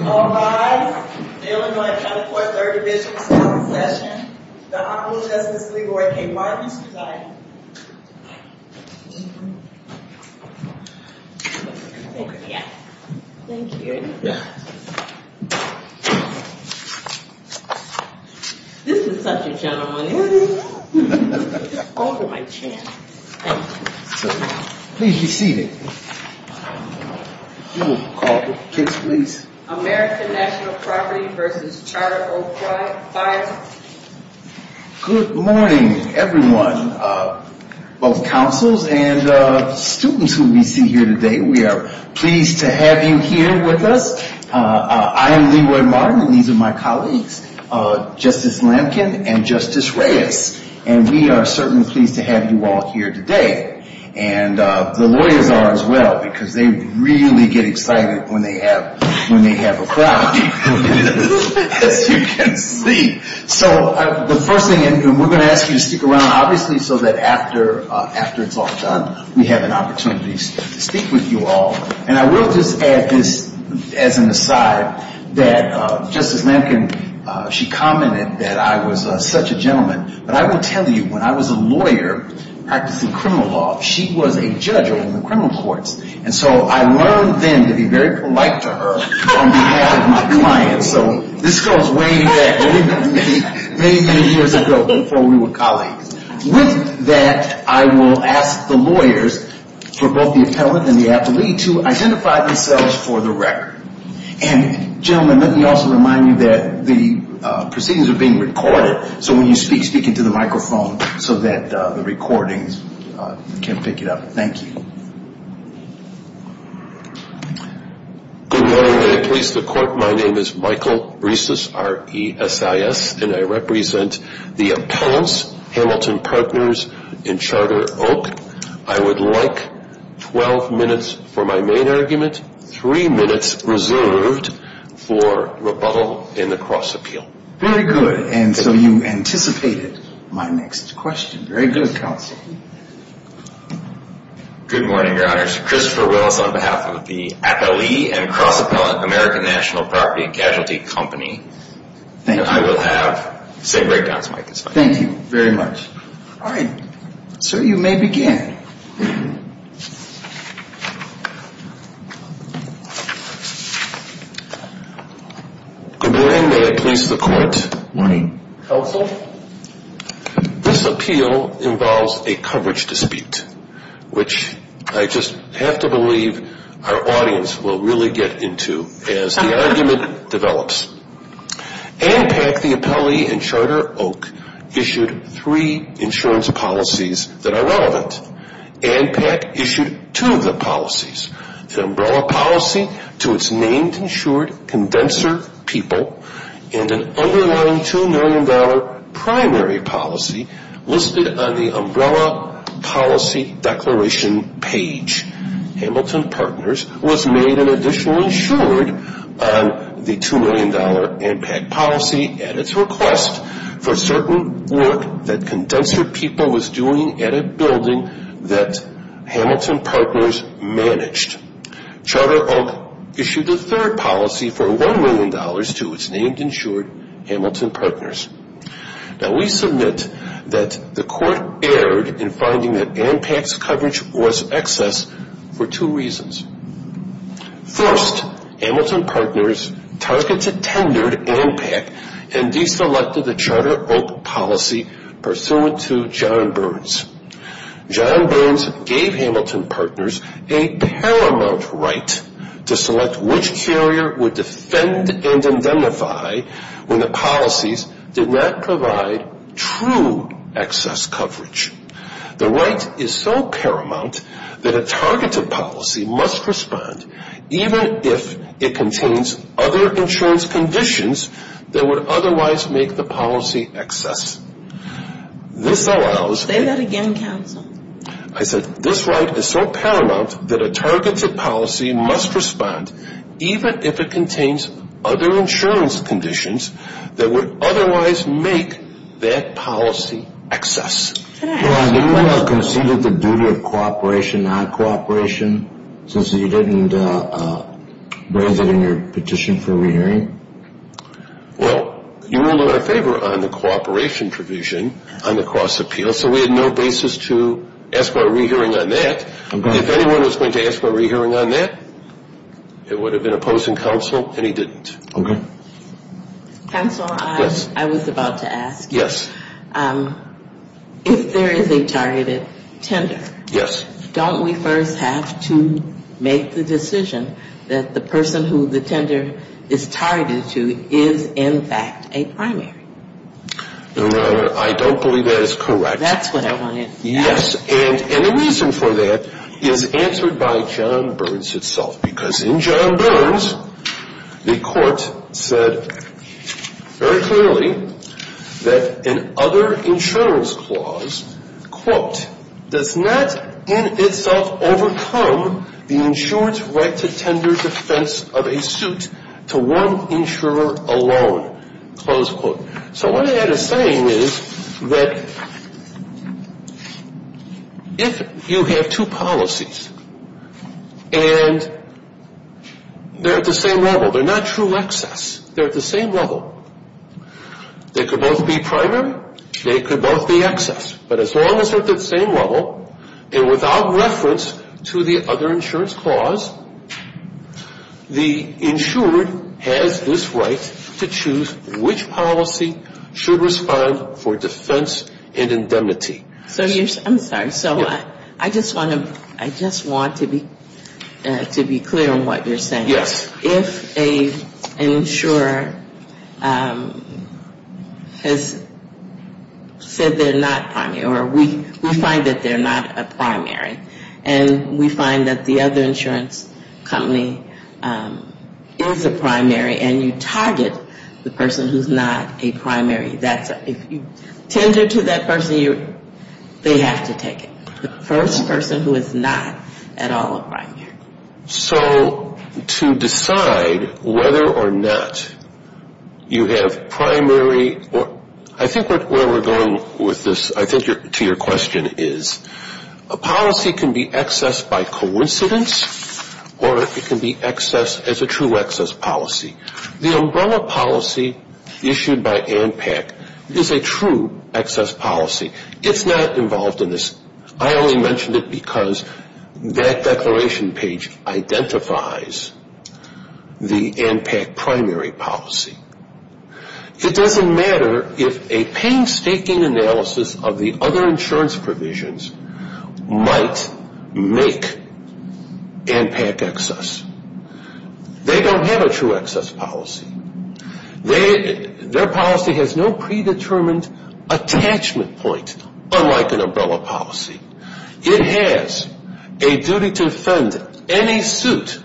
All rise. The Illinois County Court Third Division is now in session. The Honorable Justice LeRoy K. Martin is presiding. This is such a gentleman. It's over my chin. Please be seated. You will call the kicks, please. American National Property v. Charter Oak Fire Insurance Co. Good morning, everyone, both counsels and students who we see here today. We are pleased to have you here with us. I am LeRoy Martin and these are my colleagues, Justice Lamkin and Justice Reyes. And we are certainly pleased to have you all here today. And the lawyers are as well, because they really get excited when they have a crowd, as you can see. So the first thing, we're going to ask you to stick around, obviously, so that after it's all done, we have an opportunity to speak with you all. And I will just add this as an aside, that Justice Lamkin, she commented that I was such a gentleman. But I will tell you, when I was a lawyer practicing criminal law, she was a judge on the criminal courts. And so I learned then to be very polite to her on behalf of my clients. So this goes way back, many, many years ago before we were colleagues. With that, I will ask the lawyers for both the appellant and the athlete to identify themselves for the record. And gentlemen, let me also remind you that the proceedings are being recorded. So when you speak, speak into the microphone so that the recordings can pick it up. Thank you. Good morning. May it please the Court, my name is Michael Riesis, R-E-S-I-S. And I represent the appellants, Hamilton Partners and Charter Oak. I would like 12 minutes for my main argument, three minutes reserved for rebuttal and the cross-appeal. Very good. And so you anticipated my next question. Very good, counsel. Good morning, Your Honors. Christopher Wills on behalf of the Appellee and Cross-Appellant American National Property and Casualty Company. Thank you. And I will have the same breakdowns, Mike. Thank you very much. All right. Sir, you may begin. Good morning. May it please the Court. Morning. Counsel? This appeal involves a coverage dispute, which I just have to believe our audience will really get into as the argument develops. ANPAC, the Appellee and Charter Oak, issued three insurance policies that are relevant. ANPAC issued two of the policies, the umbrella policy to its named insured condenser people and an underlying $2 million primary policy listed on the umbrella policy declaration page. Hamilton Partners was made an additional insured on the $2 million ANPAC policy at its request for certain work that condenser people was doing at a building that Hamilton Partners managed. Charter Oak issued a third policy for $1 million to its named insured Hamilton Partners. Now, we submit that the Court erred in finding that ANPAC's coverage was excess for two reasons. First, Hamilton Partners targeted, tendered ANPAC and deselected the Charter Oak policy pursuant to John Burns. John Burns gave Hamilton Partners a paramount right to select which carrier would defend and indemnify when the policies did not provide true excess coverage. The right is so paramount that a targeted policy must respond even if it contains other insurance conditions that would otherwise make the policy excess. This allows... Say that again, counsel. I said this right is so paramount that a targeted policy must respond even if it contains other insurance conditions that would otherwise make that policy excess. Could I ask... Well, have you conceded the duty of cooperation, non-cooperation since you didn't bring it in your petition for re-hearing? Well, you ruled in our favor on the cooperation provision on the cross-appeal, so we had no basis to ask for a re-hearing on that. If anyone was going to ask for a re-hearing on that, it would have been opposing counsel, and he didn't. Counsel, I was about to ask. Yes. If there is a targeted tender... Yes. Don't we first have to make the decision that the person who the tender is targeted to is in fact a primary? No, Your Honor. I don't believe that is correct. That's what I wanted to ask. Yes. And the reason for that is answered by John Burns itself, because in John Burns, the court said very clearly that an other insurance clause, quote, does not in itself overcome the insurance right to tender defense of a suit to one insurer alone, close quote. So what that is saying is that if you have two policies and they're at the same level, they're not true excess, they're at the same level, they could both be primary, they could both be excess, but as long as they're at the same level and without reference to the other insurance clause, the insured has this right to choose which policy should respond for defense and indemnity. I'm sorry. So I just want to be clear on what you're saying. Yes. If an insurer has said they're not primary, or we find that they're not a primary, and we find that the other insurance company is a primary, and you target the person who's not a primary, if you tender to that person, they have to take it. The first person who is not at all a primary. So to decide whether or not you have primary, I think where we're going with this, I think to your question is a policy can be excess by coincidence or it can be excess as a true excess policy. The umbrella policy issued by ANPAC is a true excess policy. It's not involved in this. I only mentioned it because that declaration page identifies the ANPAC primary policy. It doesn't matter if a painstaking analysis of the other insurance provisions might make ANPAC excess. They don't have a true excess policy. Their policy has no predetermined attachment point unlike an umbrella policy. It has a duty to defend any suit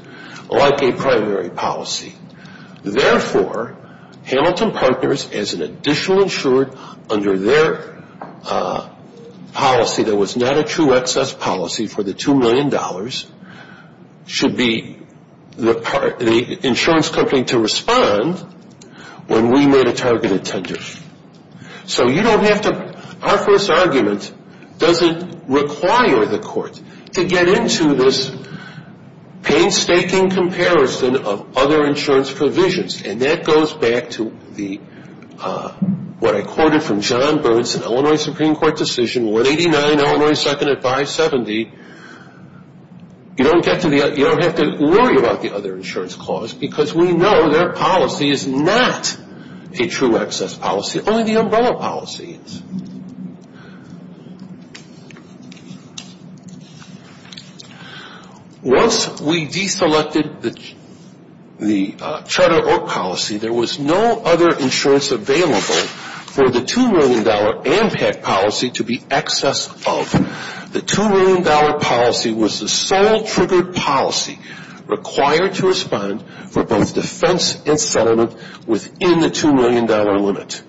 like a primary policy. Therefore, Hamilton Partners as an additional insurer under their policy that was not a true excess policy for the $2 million should be the insurance company to respond when we made a targeted tender. So our first argument doesn't require the court to get into this painstaking comparison of other insurance provisions. And that goes back to what I quoted from John Burns' Illinois Supreme Court decision, 189 Illinois 2nd at 570. You don't have to worry about the other insurance clause because we know their policy is not a true excess policy. Only the umbrella policy is. Once we deselected the charter or policy, there was no other insurance available for the $2 million ANPAC policy to be excess of. The $2 million policy was the sole triggered policy required to respond for both defense and settlement within the $2 million limit.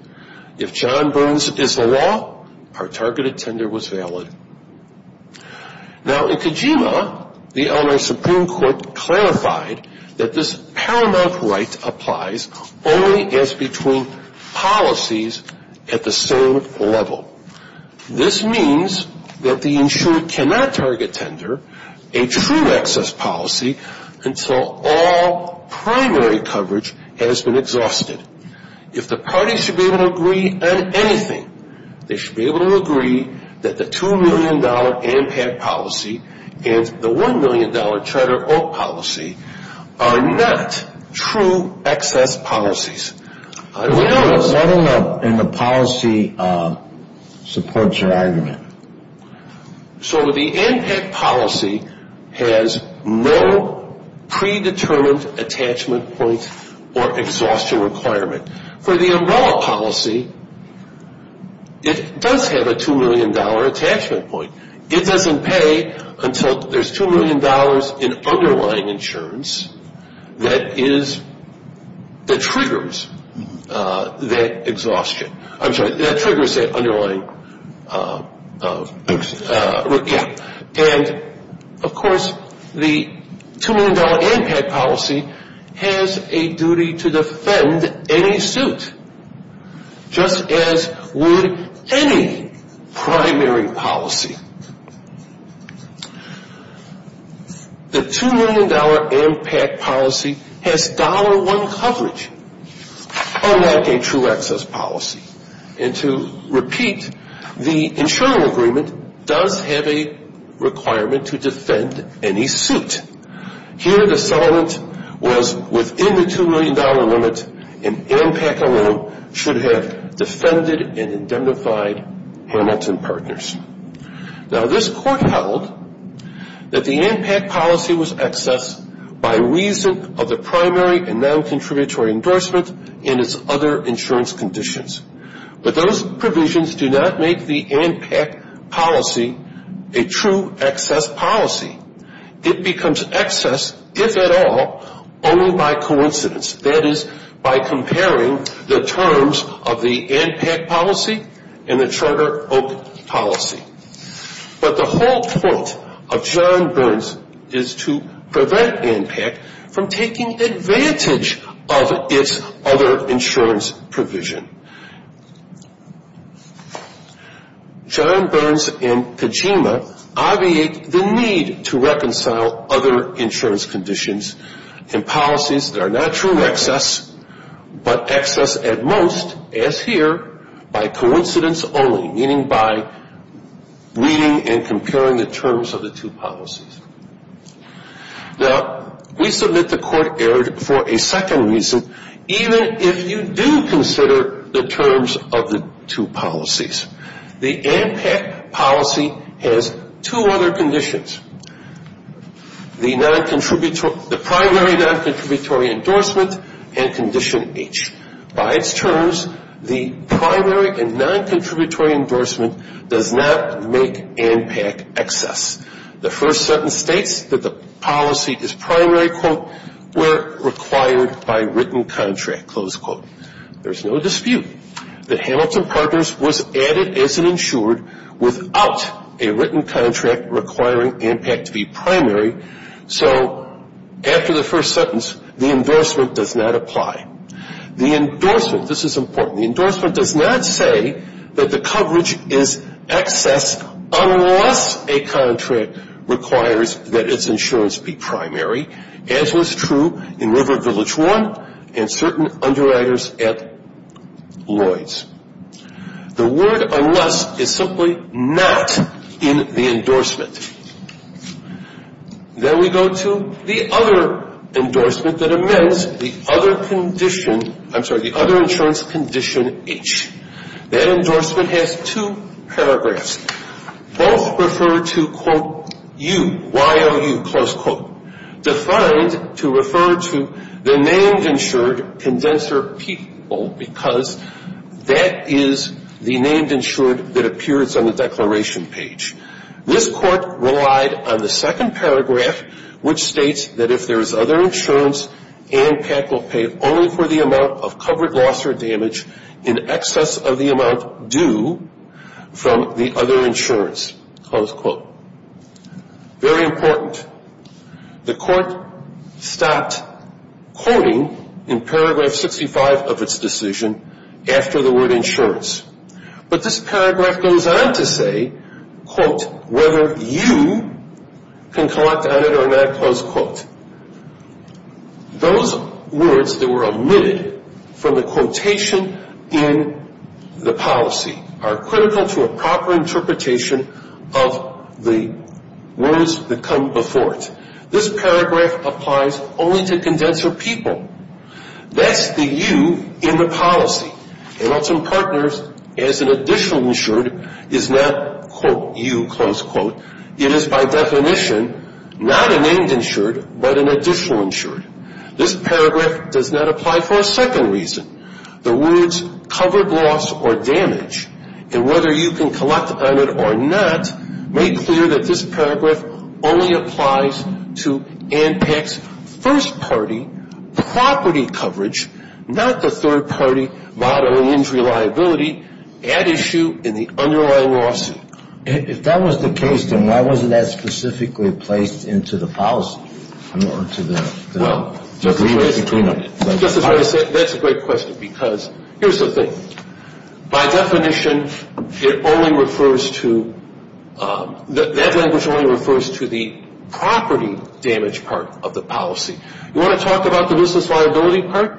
If John Burns is the law, our targeted tender was valid. Now, in Kojima, the Illinois Supreme Court clarified that this paramount right applies only as between policies at the same level. This means that the insurer cannot target tender a true excess policy until all primary coverage has been exhausted. If the parties should be able to agree on anything, they should be able to agree that the $2 million ANPAC policy and the $1 million charter or policy are not true excess policies. What in the policy supports your argument? So the ANPAC policy has no predetermined attachment point or exhaustion requirement. For the umbrella policy, it does have a $2 million attachment point. It doesn't pay until there's $2 million in underlying insurance that triggers that exhaustion. I'm sorry, that triggers that underlying, yeah. And, of course, the $2 million ANPAC policy has a duty to defend any suit, just as would any primary policy. The $2 million ANPAC policy has $1 coverage, unlike a true excess policy. And to repeat, the insurer agreement does have a requirement to defend any suit. Here, the settlement was within the $2 million limit, and ANPAC alone should have defended and identified Hamilton Partners. Now, this court held that the ANPAC policy was excess by reason of the primary and non-contributory endorsement and its other insurance conditions. But those provisions do not make the ANPAC policy a true excess policy. It becomes excess, if at all, only by coincidence. That is, by comparing the terms of the ANPAC policy and the Charter Oak policy. But the whole point of John Burns is to prevent ANPAC from taking advantage of its other insurance provision. John Burns and Kojima obviate the need to reconcile other insurance conditions and policies that are not true excess, but excess at most, as here, by coincidence only, meaning by reading and comparing the terms of the two policies. Now, we submit the court erred for a second reason, even if you do consider the terms of the two policies. The ANPAC policy has two other conditions. The primary and non-contributory endorsement and condition H. By its terms, the primary and non-contributory endorsement does not make ANPAC excess. The first sentence states that the policy is primary, quote, where required by written contract, close quote. There is no dispute that Hamilton Partners was added as an insured without a written contract requiring ANPAC to be primary. So after the first sentence, the endorsement does not apply. The endorsement, this is important, the endorsement does not say that the coverage is excess unless a contract requires that its insurance be primary, as was true in River Village 1 and certain underwriters at Lloyd's. The word unless is simply not in the endorsement. Then we go to the other endorsement that amends the other condition, I'm sorry, the other insurance condition H. That endorsement has two paragraphs. Both refer to, quote, you, YOU, close quote, defined to refer to the named insured condenser people because that is the named insured that appears on the declaration page. This court relied on the second paragraph, which states that if there is other insurance, ANPAC will pay only for the amount of covered loss or damage in excess of the amount due from the other insurance, close quote. Very important. The court stopped quoting in paragraph 65 of its decision after the word insurance. But this paragraph goes on to say, quote, whether YOU can collect on it or not, close quote. Those words that were omitted from the quotation in the policy are critical to a proper interpretation of the words that come before it. This paragraph applies only to condenser people. That's the YOU in the policy. Adults and partners as an additional insured is not, quote, YOU, close quote. It is by definition not a named insured but an additional insured. This paragraph does not apply for a second reason. The words covered loss or damage and whether you can collect on it or not make clear that this paragraph only applies to ANPAC's first party property coverage, not the third party bodily injury liability at issue in the underlying lawsuit. If that was the case, then why wasn't that specifically placed into the policy? That's a great question because here's the thing. By definition, it only refers to, that language only refers to the property damage part of the policy. You want to talk about the business liability part?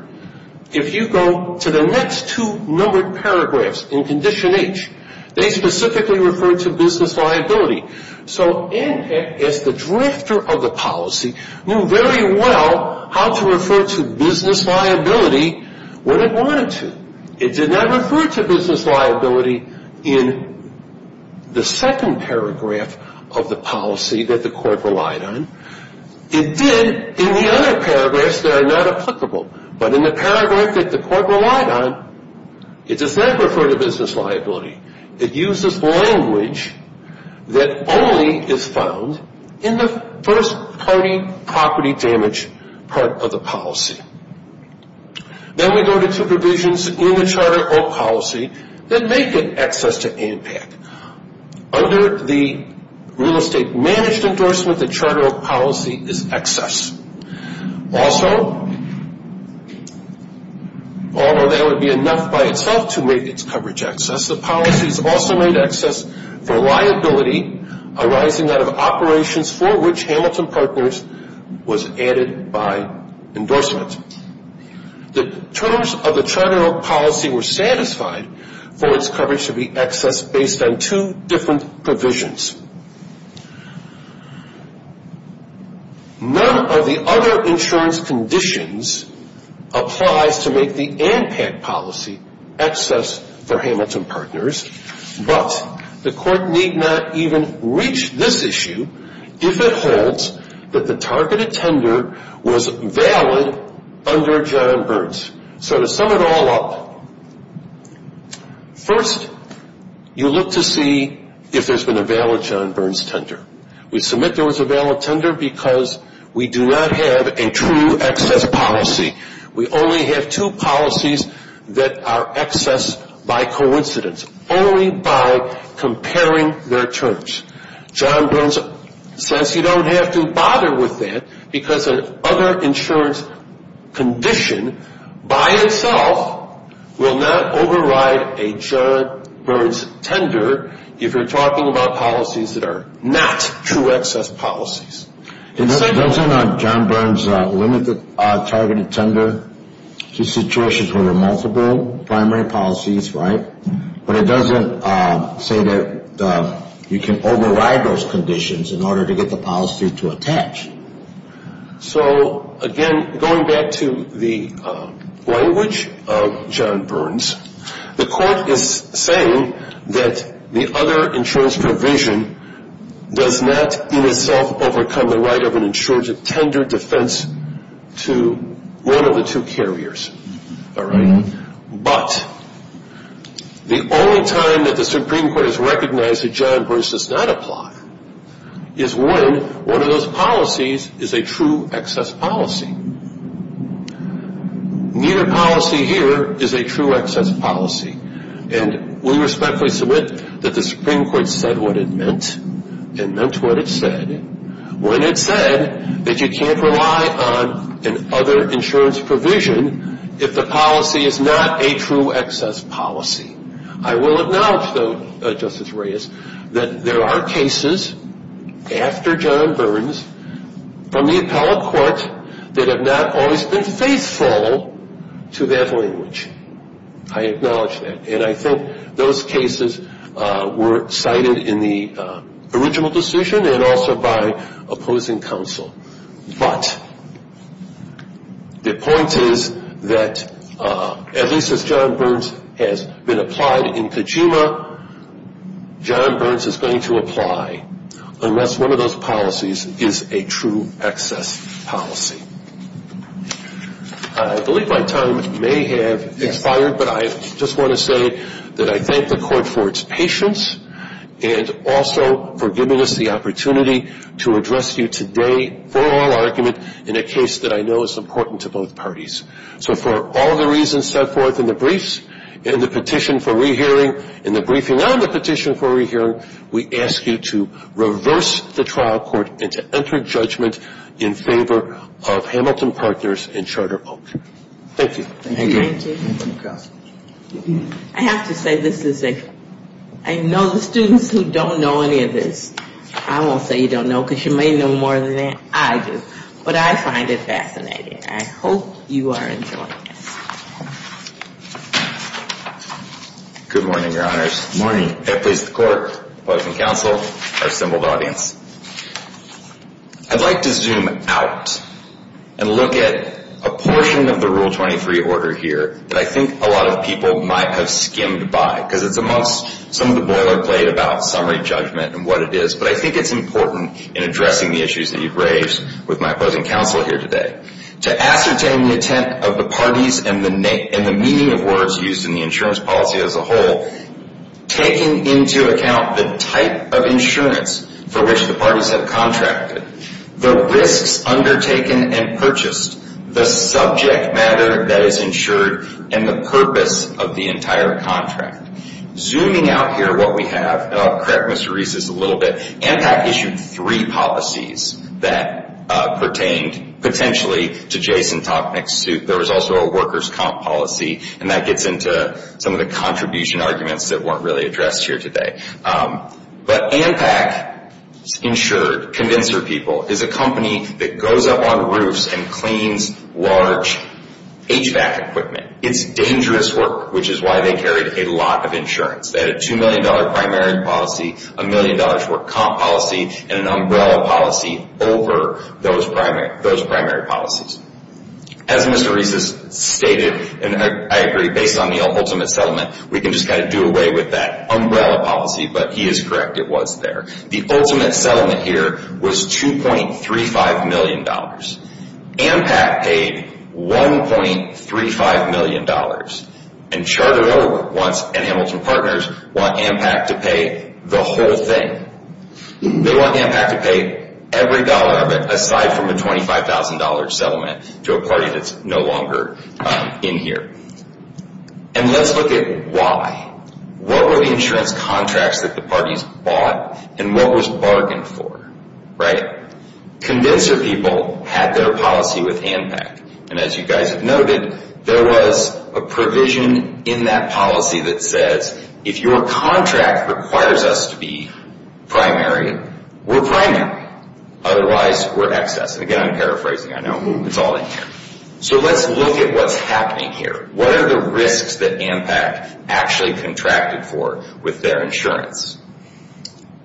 If you go to the next two numbered paragraphs in Condition H, they specifically refer to business liability. So ANPAC, as the drafter of the policy, knew very well how to refer to business liability when it wanted to. It did not refer to business liability in the second paragraph of the policy that the court relied on. It did in the other paragraphs that are not applicable, but in the paragraph that the court relied on, it does not refer to business liability. It uses language that only is found in the first party property damage part of the policy. Then we go to two provisions in the Charter of Policy that make it access to ANPAC. Under the real estate managed endorsement, the Charter of Policy is access. Also, although that would be enough by itself to make its coverage access, the policy is also made access for liability arising out of operations for which Hamilton Partners was added by endorsement. The terms of the Charter of Policy were satisfied for its coverage to be access based on two different provisions. None of the other insurance conditions applies to make the ANPAC policy access for Hamilton Partners, but the court need not even reach this issue if it holds that the targeted tender was valid under John Burns. So to sum it all up, first you look to see if there's been a valid John Burns tender. We submit there was a valid tender because we do not have a true access policy. We only have two policies that are access by coincidence, only by comparing their terms. John Burns says you don't have to bother with that because another insurance condition by itself will not override a John Burns tender if you're talking about policies that are not true access policies. Doesn't John Burns limit the targeted tender to situations where there are multiple primary policies, right? But it doesn't say that you can override those conditions in order to get the policy to attach. So again, going back to the language of John Burns, the court is saying that the other insurance provision does not in itself overcome the right of an insured tender defense to one of the two carriers. But the only time that the Supreme Court has recognized that John Burns does not apply is when one of those policies is a true access policy. Neither policy here is a true access policy. And we respectfully submit that the Supreme Court said what it meant and meant what it said when it said that you can't rely on an other insurance provision if the policy is not a true access policy. I will acknowledge, though, Justice Reyes, that there are cases after John Burns from the appellate court that have not always been faithful to that language. I acknowledge that. And I think those cases were cited in the original decision and also by opposing counsel. But the point is that at least as John Burns has been applied in Kojima, John Burns is going to apply unless one of those policies is a true access policy. I believe my time may have expired, but I just want to say that I thank the court for its patience and also for giving us the opportunity to address you today for oral argument in a case that I know is important to both parties. So for all the reasons set forth in the briefs, in the petition for rehearing, in the briefing on the petition for rehearing, we ask you to reverse the trial court and to enter judgment in favor of Hamilton Partners and Charter Oak. Thank you. Thank you. Thank you. I have to say this is a ‑‑ I know the students who don't know any of this. I won't say you don't know because you may know more than I do. But I find it fascinating. I hope you are enjoying this. Good morning, Your Honors. Good morning. Appellate court, opposing counsel, our assembled audience. I'd like to zoom out and look at a portion of the Rule 23 order here that I think a lot of people might have skimmed by because it's amongst some of the boilerplate about summary judgment and what it is. But I think it's important in addressing the issues that you've raised with my opposing counsel here today to ascertain the intent of the parties and the meaning of words used in the insurance policy as a whole, taking into account the type of insurance for which the parties have contracted, the risks undertaken and purchased, the subject matter that is insured, and the purpose of the entire contract. Zooming out here, what we have, and I'll correct Mr. Reese's a little bit, ANPAC issued three policies that pertained potentially to Jason Tochnik's suit. There was also a worker's comp policy. And that gets into some of the contribution arguments that weren't really addressed here today. But ANPAC insured, convinced their people, is a company that goes up on roofs and cleans large HVAC equipment. It's dangerous work, which is why they carried a lot of insurance. They had a $2 million primary policy, a $1 million work comp policy, and an umbrella policy over those primary policies. As Mr. Reese has stated, and I agree, based on the ultimate settlement, we can just kind of do away with that umbrella policy. But he is correct, it was there. The ultimate settlement here was $2.35 million. ANPAC paid $1.35 million and chartered over once, and Hamilton Partners want ANPAC to pay the whole thing. They want ANPAC to pay every dollar of it, aside from a $25,000 settlement, to a party that's no longer in here. And let's look at why. What were the insurance contracts that the parties bought? And what was bargained for? Convinced their people had their policy with ANPAC. And as you guys have noted, there was a provision in that policy that says, if your contract requires us to be primary, we're primary. Otherwise, we're excess. And again, I'm paraphrasing. I know. It's all in here. So let's look at what's happening here. What are the risks that ANPAC actually contracted for with their insurance?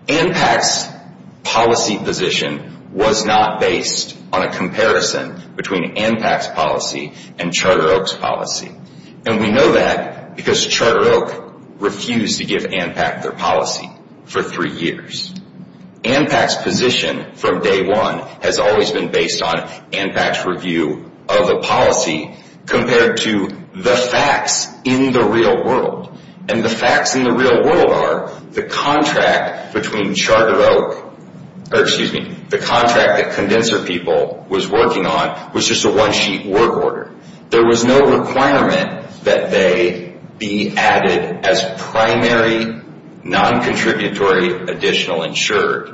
ANPAC's policy position was not based on a comparison between ANPAC's policy and Charter Oak's policy. And we know that because Charter Oak refused to give ANPAC their policy for three years. ANPAC's position from day one has always been based on ANPAC's review of the policy compared to the facts in the real world. And the facts in the real world are the contract between Charter Oak or, excuse me, the contract that Condenser People was working on was just a one-sheet work order. There was no requirement that they be added as primary non-contributory additional insured.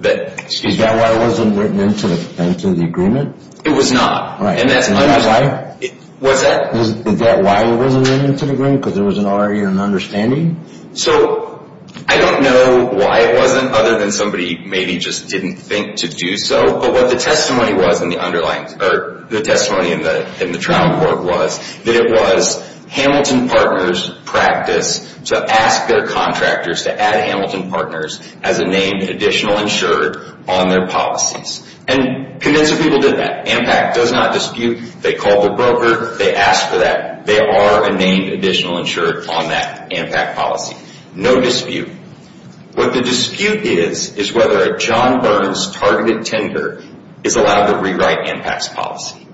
Is that why it wasn't written into the agreement? It was not. And that's another reason. Was that why it wasn't written into the agreement? Because there was already an understanding? So I don't know why it wasn't other than somebody maybe just didn't think to do so. But what the testimony was in the trial report was that it was Hamilton Partners' practice to ask their contractors to add Hamilton Partners as a named additional insured on their policies. And Condenser People did that. ANPAC does not dispute. They called the broker. They asked for that. They are a named additional insured on that ANPAC policy. No dispute. What the dispute is is whether a John Burns targeted tender is allowed to rewrite ANPAC's policy.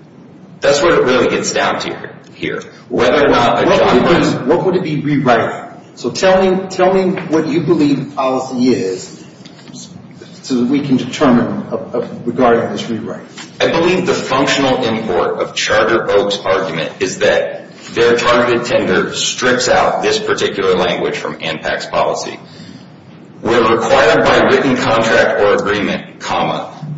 That's what it really gets down to here. What would it be rewriting? So tell me what you believe the policy is so that we can determine regarding this rewrite. I believe the functional import of Charter Oak's argument is that their targeted tender strips out this particular language from ANPAC's policy. When required by written contract or agreement,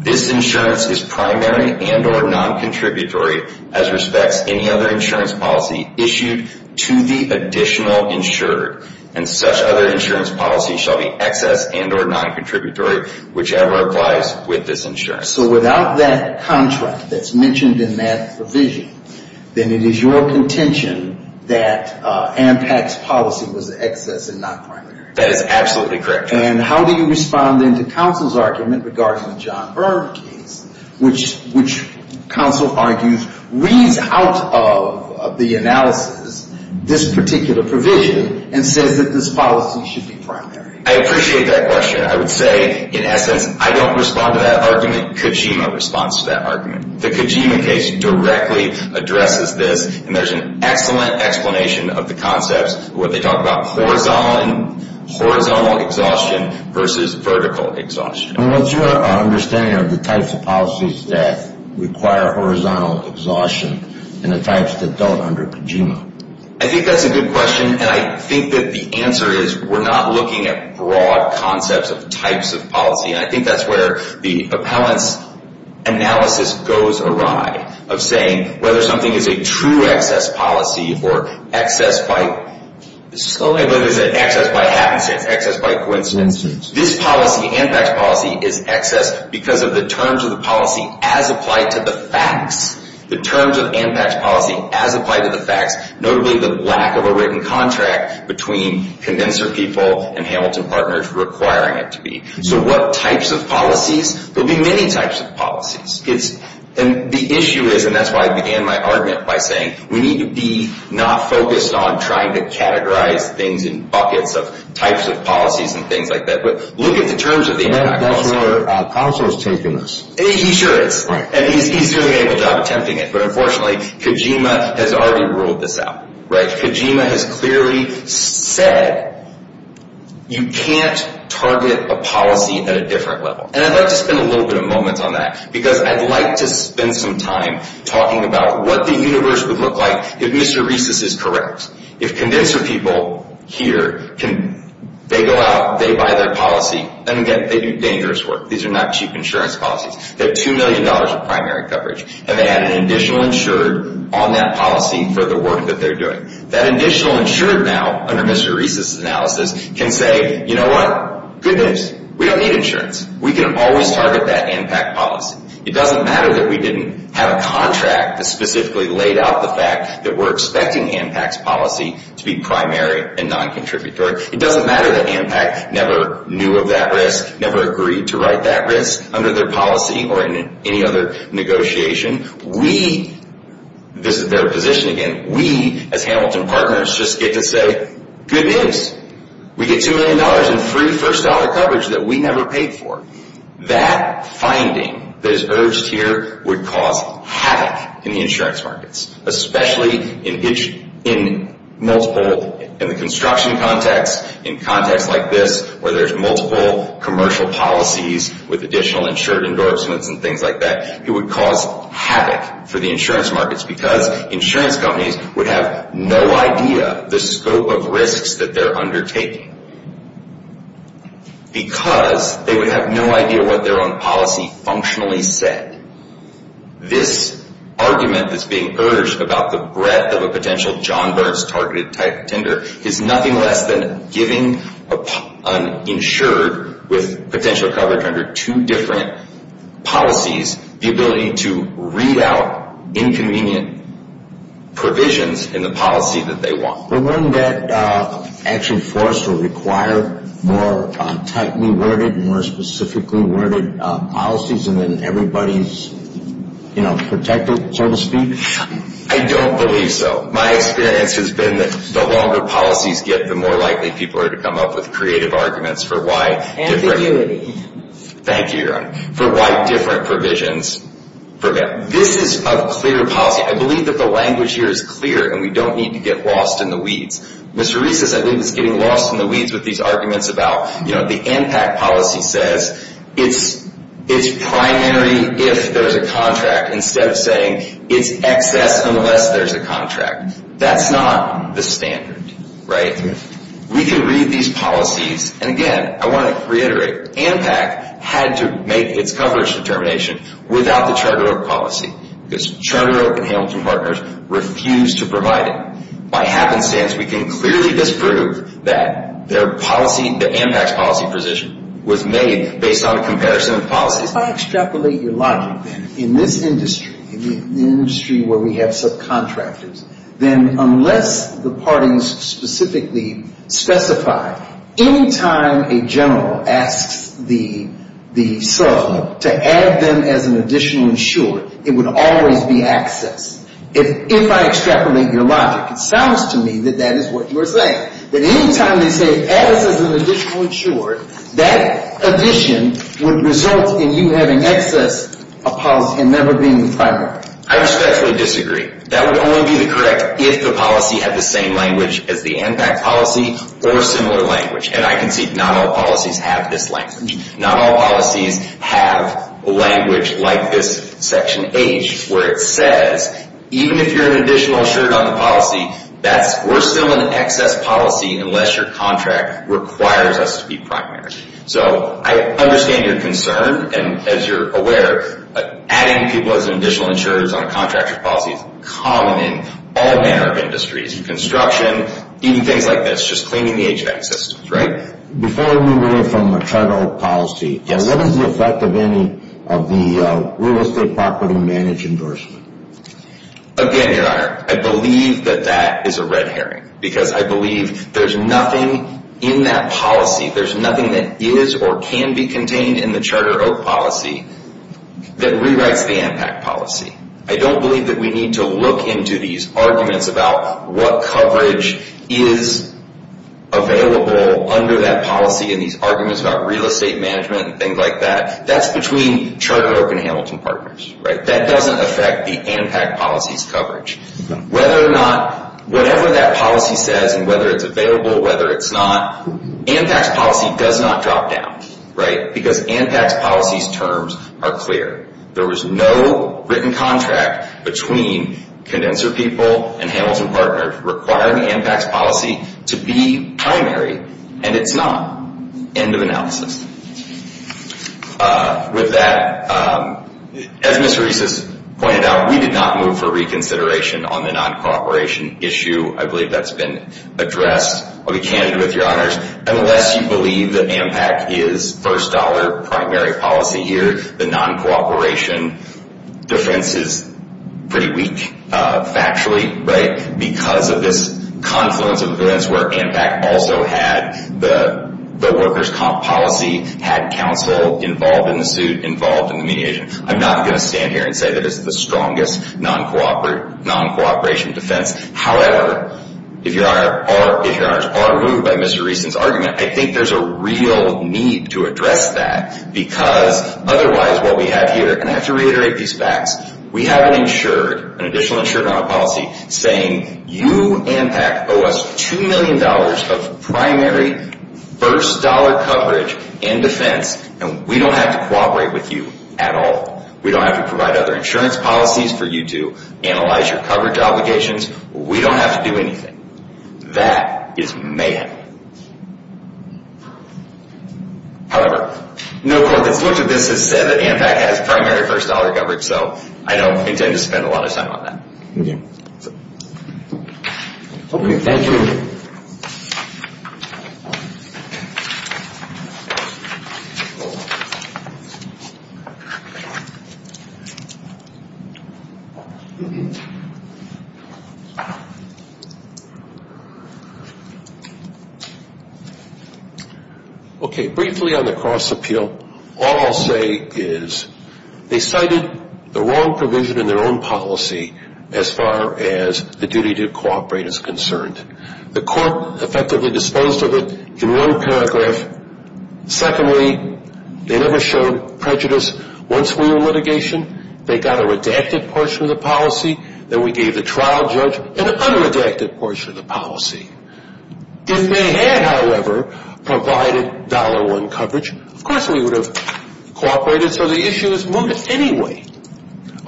this insurance is primary and or non-contributory as respects any other insurance policy issued to the additional insured. And such other insurance policy shall be excess and or non-contributory, whichever applies with this insurance. So without that contract that's mentioned in that provision, then it is your contention that ANPAC's policy was excess and not primary. That is absolutely correct. And how do you respond then to counsel's argument regarding the John Burns case, which counsel argues reads out of the analysis this particular provision and says that this policy should be primary? I appreciate that question. I would say in essence I don't respond to that argument. Kojima responds to that argument. The Kojima case directly addresses this, and there's an excellent explanation of the concepts where they talk about horizontal exhaustion versus vertical exhaustion. What's your understanding of the types of policies that require horizontal exhaustion and the types that don't under Kojima? I think that's a good question, and I think that the answer is we're not looking at broad concepts of types of policy, and I think that's where the appellant's analysis goes awry, of saying whether something is a true excess policy or excess by coincidence. This policy, ANPAC's policy, is excess because of the terms of the policy as applied to the facts. The terms of ANPAC's policy as applied to the facts, notably the lack of a written contract between condenser people and Hamilton Partners requiring it to be. So what types of policies? There will be many types of policies. And the issue is, and that's why I began my argument by saying, we need to be not focused on trying to categorize things in buckets of types of policies and things like that, but look at the terms of the ANPAC policy. That's where counsel is taking us. He sure is. Right. And he's doing a good job attempting it. But unfortunately, Kojima has already ruled this out. Kojima has clearly said you can't target a policy at a different level. And I'd like to spend a little bit of a moment on that, because I'd like to spend some time talking about what the universe would look like if Mr. Reese's is correct. If condenser people here, they go out, they buy their policy, and again, they do dangerous work. These are not cheap insurance policies. They have $2 million of primary coverage. And they have an additional insured on that policy for the work that they're doing. That additional insured now, under Mr. Reese's analysis, can say, you know what? Good news. We don't need insurance. We can always target that ANPAC policy. It doesn't matter that we didn't have a contract that specifically laid out the fact that we're expecting ANPAC's policy to be primary and noncontributory. It doesn't matter that ANPAC never knew of that risk, never agreed to write that risk under their policy or in any other negotiation. We, this is their position again, we as Hamilton partners just get to say, good news. We get $2 million in free first-dollar coverage that we never paid for. That finding that is urged here would cause havoc in the insurance markets, especially in multiple, in the construction context, in contexts like this where there's multiple commercial policies with additional insured endorsements and things like that. It would cause havoc for the insurance markets because insurance companies would have no idea the scope of risks that they're undertaking. Because they would have no idea what their own policy functionally said. This argument that's being urged about the breadth of a potential John Burns-targeted type tender is nothing less than giving an insured with potential coverage under two different policies the ability to read out inconvenient provisions in the policy that they want. But wouldn't that action for us require more tightly worded, more specifically worded policies and then everybody's protected, so to speak? I don't believe so. My experience has been that the longer policies get, the more likely people are to come up with creative arguments for why different. Thank you, Your Honor. For why different provisions. This is a clear policy. I believe that the language here is clear and we don't need to get lost in the weeds. Mr. Reese says I believe it's getting lost in the weeds with these arguments about, you know, the ANPAC policy says it's primary if there's a contract instead of saying it's excess unless there's a contract. That's not the standard, right? We can read these policies, and again, I want to reiterate, ANPAC had to make its coverage determination without the Charter Oak policy because Charter Oak and Hamilton Partners refused to provide it. By happenstance, we can clearly disprove that their policy, the ANPAC's policy position, was made based on a comparison of policies. If I extrapolate your logic, then, in this industry, in the industry where we have subcontractors, then unless the parties specifically specify any time a general asks the sub to add them as an additional insurer, it would always be excess. If I extrapolate your logic, it sounds to me that that is what you're saying, that any time they say add us as an additional insurer, that addition would result in you having excess of policy and never being the primary. I respectfully disagree. That would only be the correct if the policy had the same language as the ANPAC policy or similar language, and I concede not all policies have this language. Not all policies have language like this Section H, where it says, even if you're an additional insurer on the policy, we're still an excess policy unless your contract requires us to be primary. So I understand your concern, and as you're aware, adding people as an additional insurer on a contractor's policy is common in all manner of industries, construction, even things like this, just cleaning the HVAC systems, right? Before we move away from the Charter Oak policy, what is the effect of any of the real estate property manage endorsement? Again, Your Honor, I believe that that is a red herring because I believe there's nothing in that policy, there's nothing that is or can be contained in the Charter Oak policy that rewrites the ANPAC policy. I don't believe that we need to look into these arguments about what coverage is available under that policy and these arguments about real estate management and things like that. That's between Charter Oak and Hamilton Partners, right? That doesn't affect the ANPAC policy's coverage. Whether or not, whatever that policy says and whether it's available, whether it's not, ANPAC's policy does not drop down, right? Because ANPAC's policy's terms are clear. There was no written contract between Condenser People and Hamilton Partners requiring ANPAC's policy to be primary, and it's not. End of analysis. With that, as Ms. Rees has pointed out, we did not move for reconsideration on the non-cooperation issue. I believe that's been addressed. I'll be candid with Your Honors. Unless you believe that ANPAC is first dollar primary policy here, the non-cooperation defense is pretty weak factually, right? Because of this confluence of events where ANPAC also had the workers' comp policy, had counsel involved in the suit, involved in the mediation. I'm not going to stand here and say that it's the strongest non-cooperation defense. However, if Your Honors are moved by Mr. Reeson's argument, I think there's a real need to address that because otherwise what we have here, and I have to reiterate these facts, we have an insured, an additional insured policy, saying you, ANPAC, owe us $2 million of primary first dollar coverage in defense, and we don't have to cooperate with you at all. We don't have to provide other insurance policies for you to analyze your coverage obligations. We don't have to do anything. That is mayhem. However, no court that's looked at this has said that ANPAC has primary first dollar coverage, so I don't intend to spend a lot of time on that. Okay. Thank you. Okay. Briefly on the cross appeal, all I'll say is they cited the wrong provision in their own policy as far as the duty to cooperate is concerned. The court effectively disposed of it in one paragraph. Secondly, they never showed prejudice. Once we were in litigation, they got a redacted portion of the policy. Then we gave the trial judge an unredacted portion of the policy. If they had, however, provided dollar one coverage, of course we would have cooperated, so the issue is moved anyway.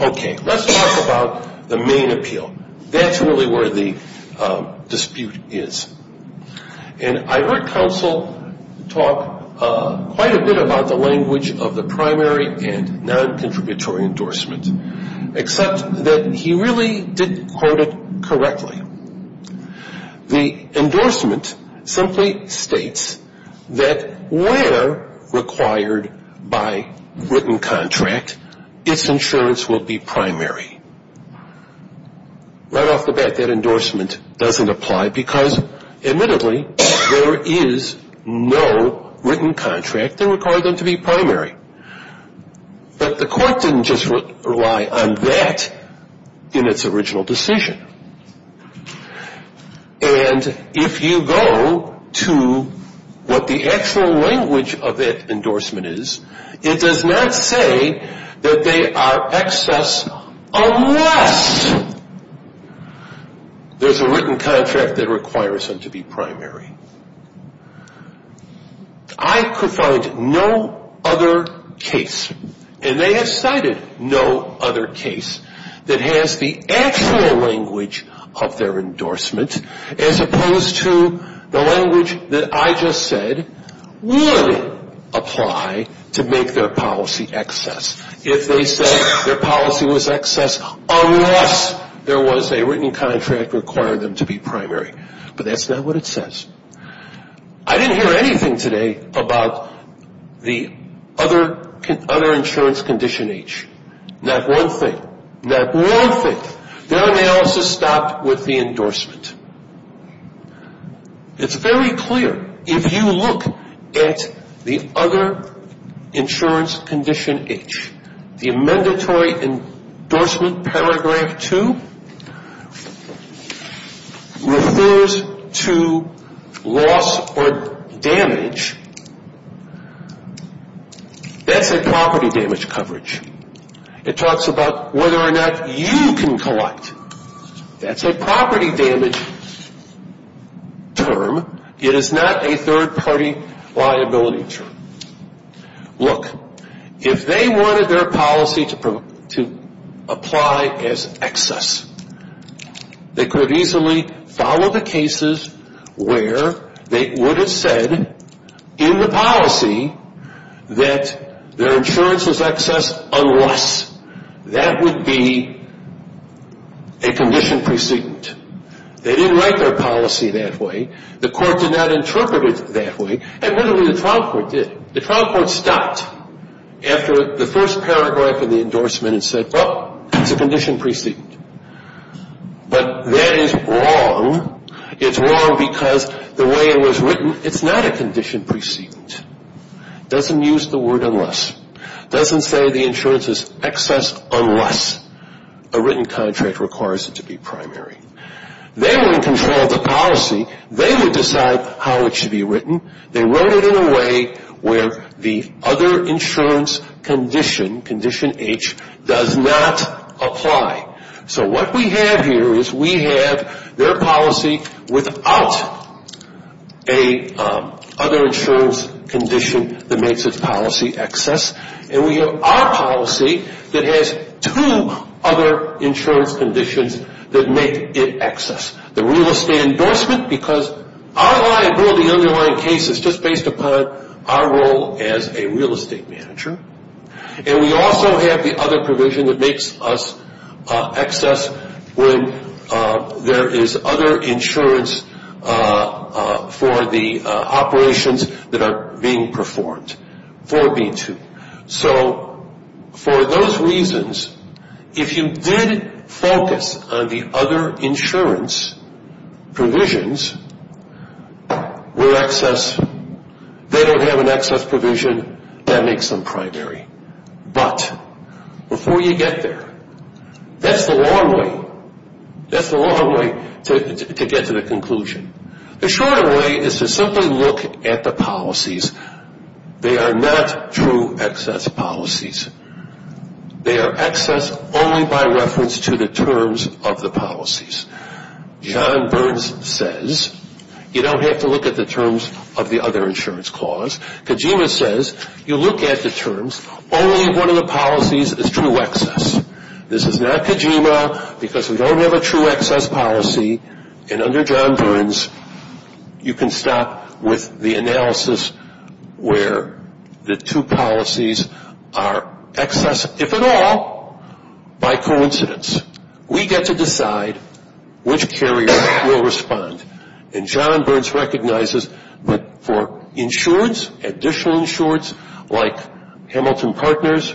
Okay. Let's talk about the main appeal. That's really where the dispute is. And I heard counsel talk quite a bit about the language of the primary and non-contributory endorsement, except that he really didn't quote it correctly. The endorsement simply states that where required by written contract, its insurance will be primary. Right off the bat, that endorsement doesn't apply because, admittedly, there is no written contract that required them to be primary. But the court didn't just rely on that in its original decision. And if you go to what the actual language of that endorsement is, it does not say that they are excess unless there's a written contract that requires them to be primary. I could find no other case, and they have cited no other case, that has the actual language of their endorsement, as opposed to the language that I just said would apply to make their policy excess. If they said their policy was excess unless there was a written contract requiring them to be primary. But that's not what it says. I didn't hear anything today about the other insurance condition H. Not one thing. Not one thing. Their analysis stopped with the endorsement. It's very clear, if you look at the other insurance condition H, the Mandatory Endorsement Paragraph 2 refers to loss or damage. That's a property damage coverage. It talks about whether or not you can collect. That's a property damage term. It is not a third-party liability term. Look, if they wanted their policy to apply as excess, they could easily follow the cases where they would have said in the policy that their insurance is excess unless that would be a condition precedent. They didn't write their policy that way. The court did not interpret it that way. Admittedly, the trial court did. The trial court stopped after the first paragraph of the endorsement and said, well, it's a condition precedent. But that is wrong. It's wrong because the way it was written, it's not a condition precedent. It doesn't use the word unless. It doesn't say the insurance is excess unless a written contract requires it to be primary. They were in control of the policy. They would decide how it should be written. They wrote it in a way where the other insurance condition, condition H, does not apply. So what we have here is we have their policy without a other insurance condition that makes its policy excess. And we have our policy that has two other insurance conditions that make it excess. The real estate endorsement because our liability underlying case is just based upon our role as a real estate manager. And we also have the other provision that makes us excess when there is other insurance for the operations that are being performed for B-2. So for those reasons, if you did focus on the other insurance provisions with excess, they don't have an excess provision, that makes them primary. But before you get there, that's the long way. That's the long way to get to the conclusion. The shorter way is to simply look at the policies. They are not true excess policies. They are excess only by reference to the terms of the policies. John Burns says you don't have to look at the terms of the other insurance clause. Kojima says you look at the terms. Only one of the policies is true excess. This is not Kojima because we don't have a true excess policy. And under John Burns, you can stop with the analysis where the two policies are excess, if at all, by coincidence. We get to decide which carrier will respond. And John Burns recognizes that for insurance, additional insurance like Hamilton Partners,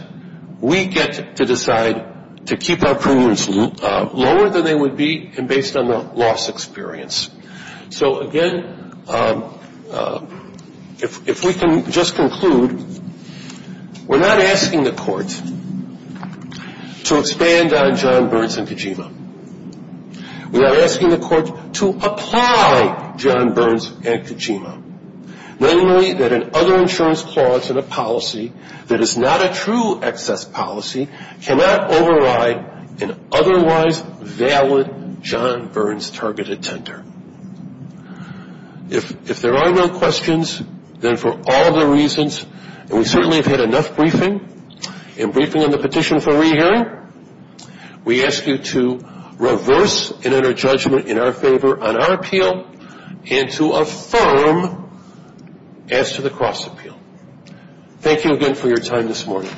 we get to decide to keep our premiums lower than they would be and based on the loss experience. So, again, if we can just conclude, we're not asking the court to expand on John Burns and Kojima. We are asking the court to apply John Burns and Kojima, namely that an other insurance clause in a policy that is not a true excess policy cannot override an otherwise valid John Burns targeted tender. If there are no questions, then for all the reasons, and we certainly have had enough briefing, in briefing on the petition for rehearing, we ask you to reverse and enter judgment in our favor on our appeal and to affirm as to the cross appeal. Thank you again for your time this morning.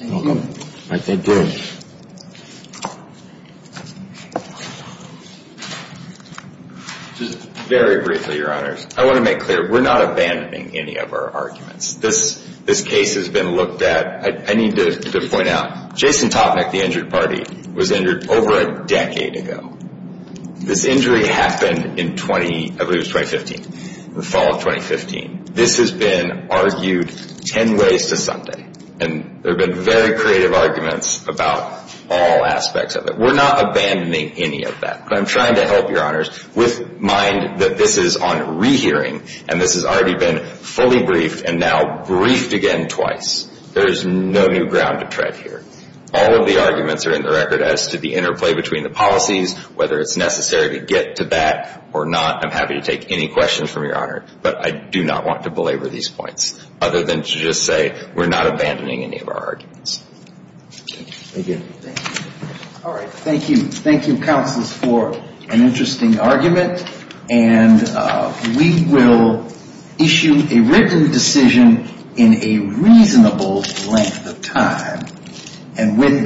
You're welcome. Thank you. Just very briefly, Your Honors, I want to make clear, we're not abandoning any of our arguments. This case has been looked at. I need to point out, Jason Topnick, the injured party, was injured over a decade ago. This injury happened in 20, I believe it was 2015, the fall of 2015. This has been argued 10 ways to Sunday, and there have been very creative arguments about all aspects of it. We're not abandoning any of that, but I'm trying to help, Your Honors, with the mind that this is on rehearing and this has already been fully briefed and now briefed again twice. There is no new ground to tread here. All of the arguments are in the record as to the interplay between the policies, whether it's necessary to get to that or not. I'm happy to take any questions from Your Honor, but I do not want to belabor these points, other than to just say we're not abandoning any of our arguments. Thank you. Thank you. All right. And with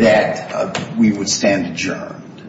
that, we would stand adjourned.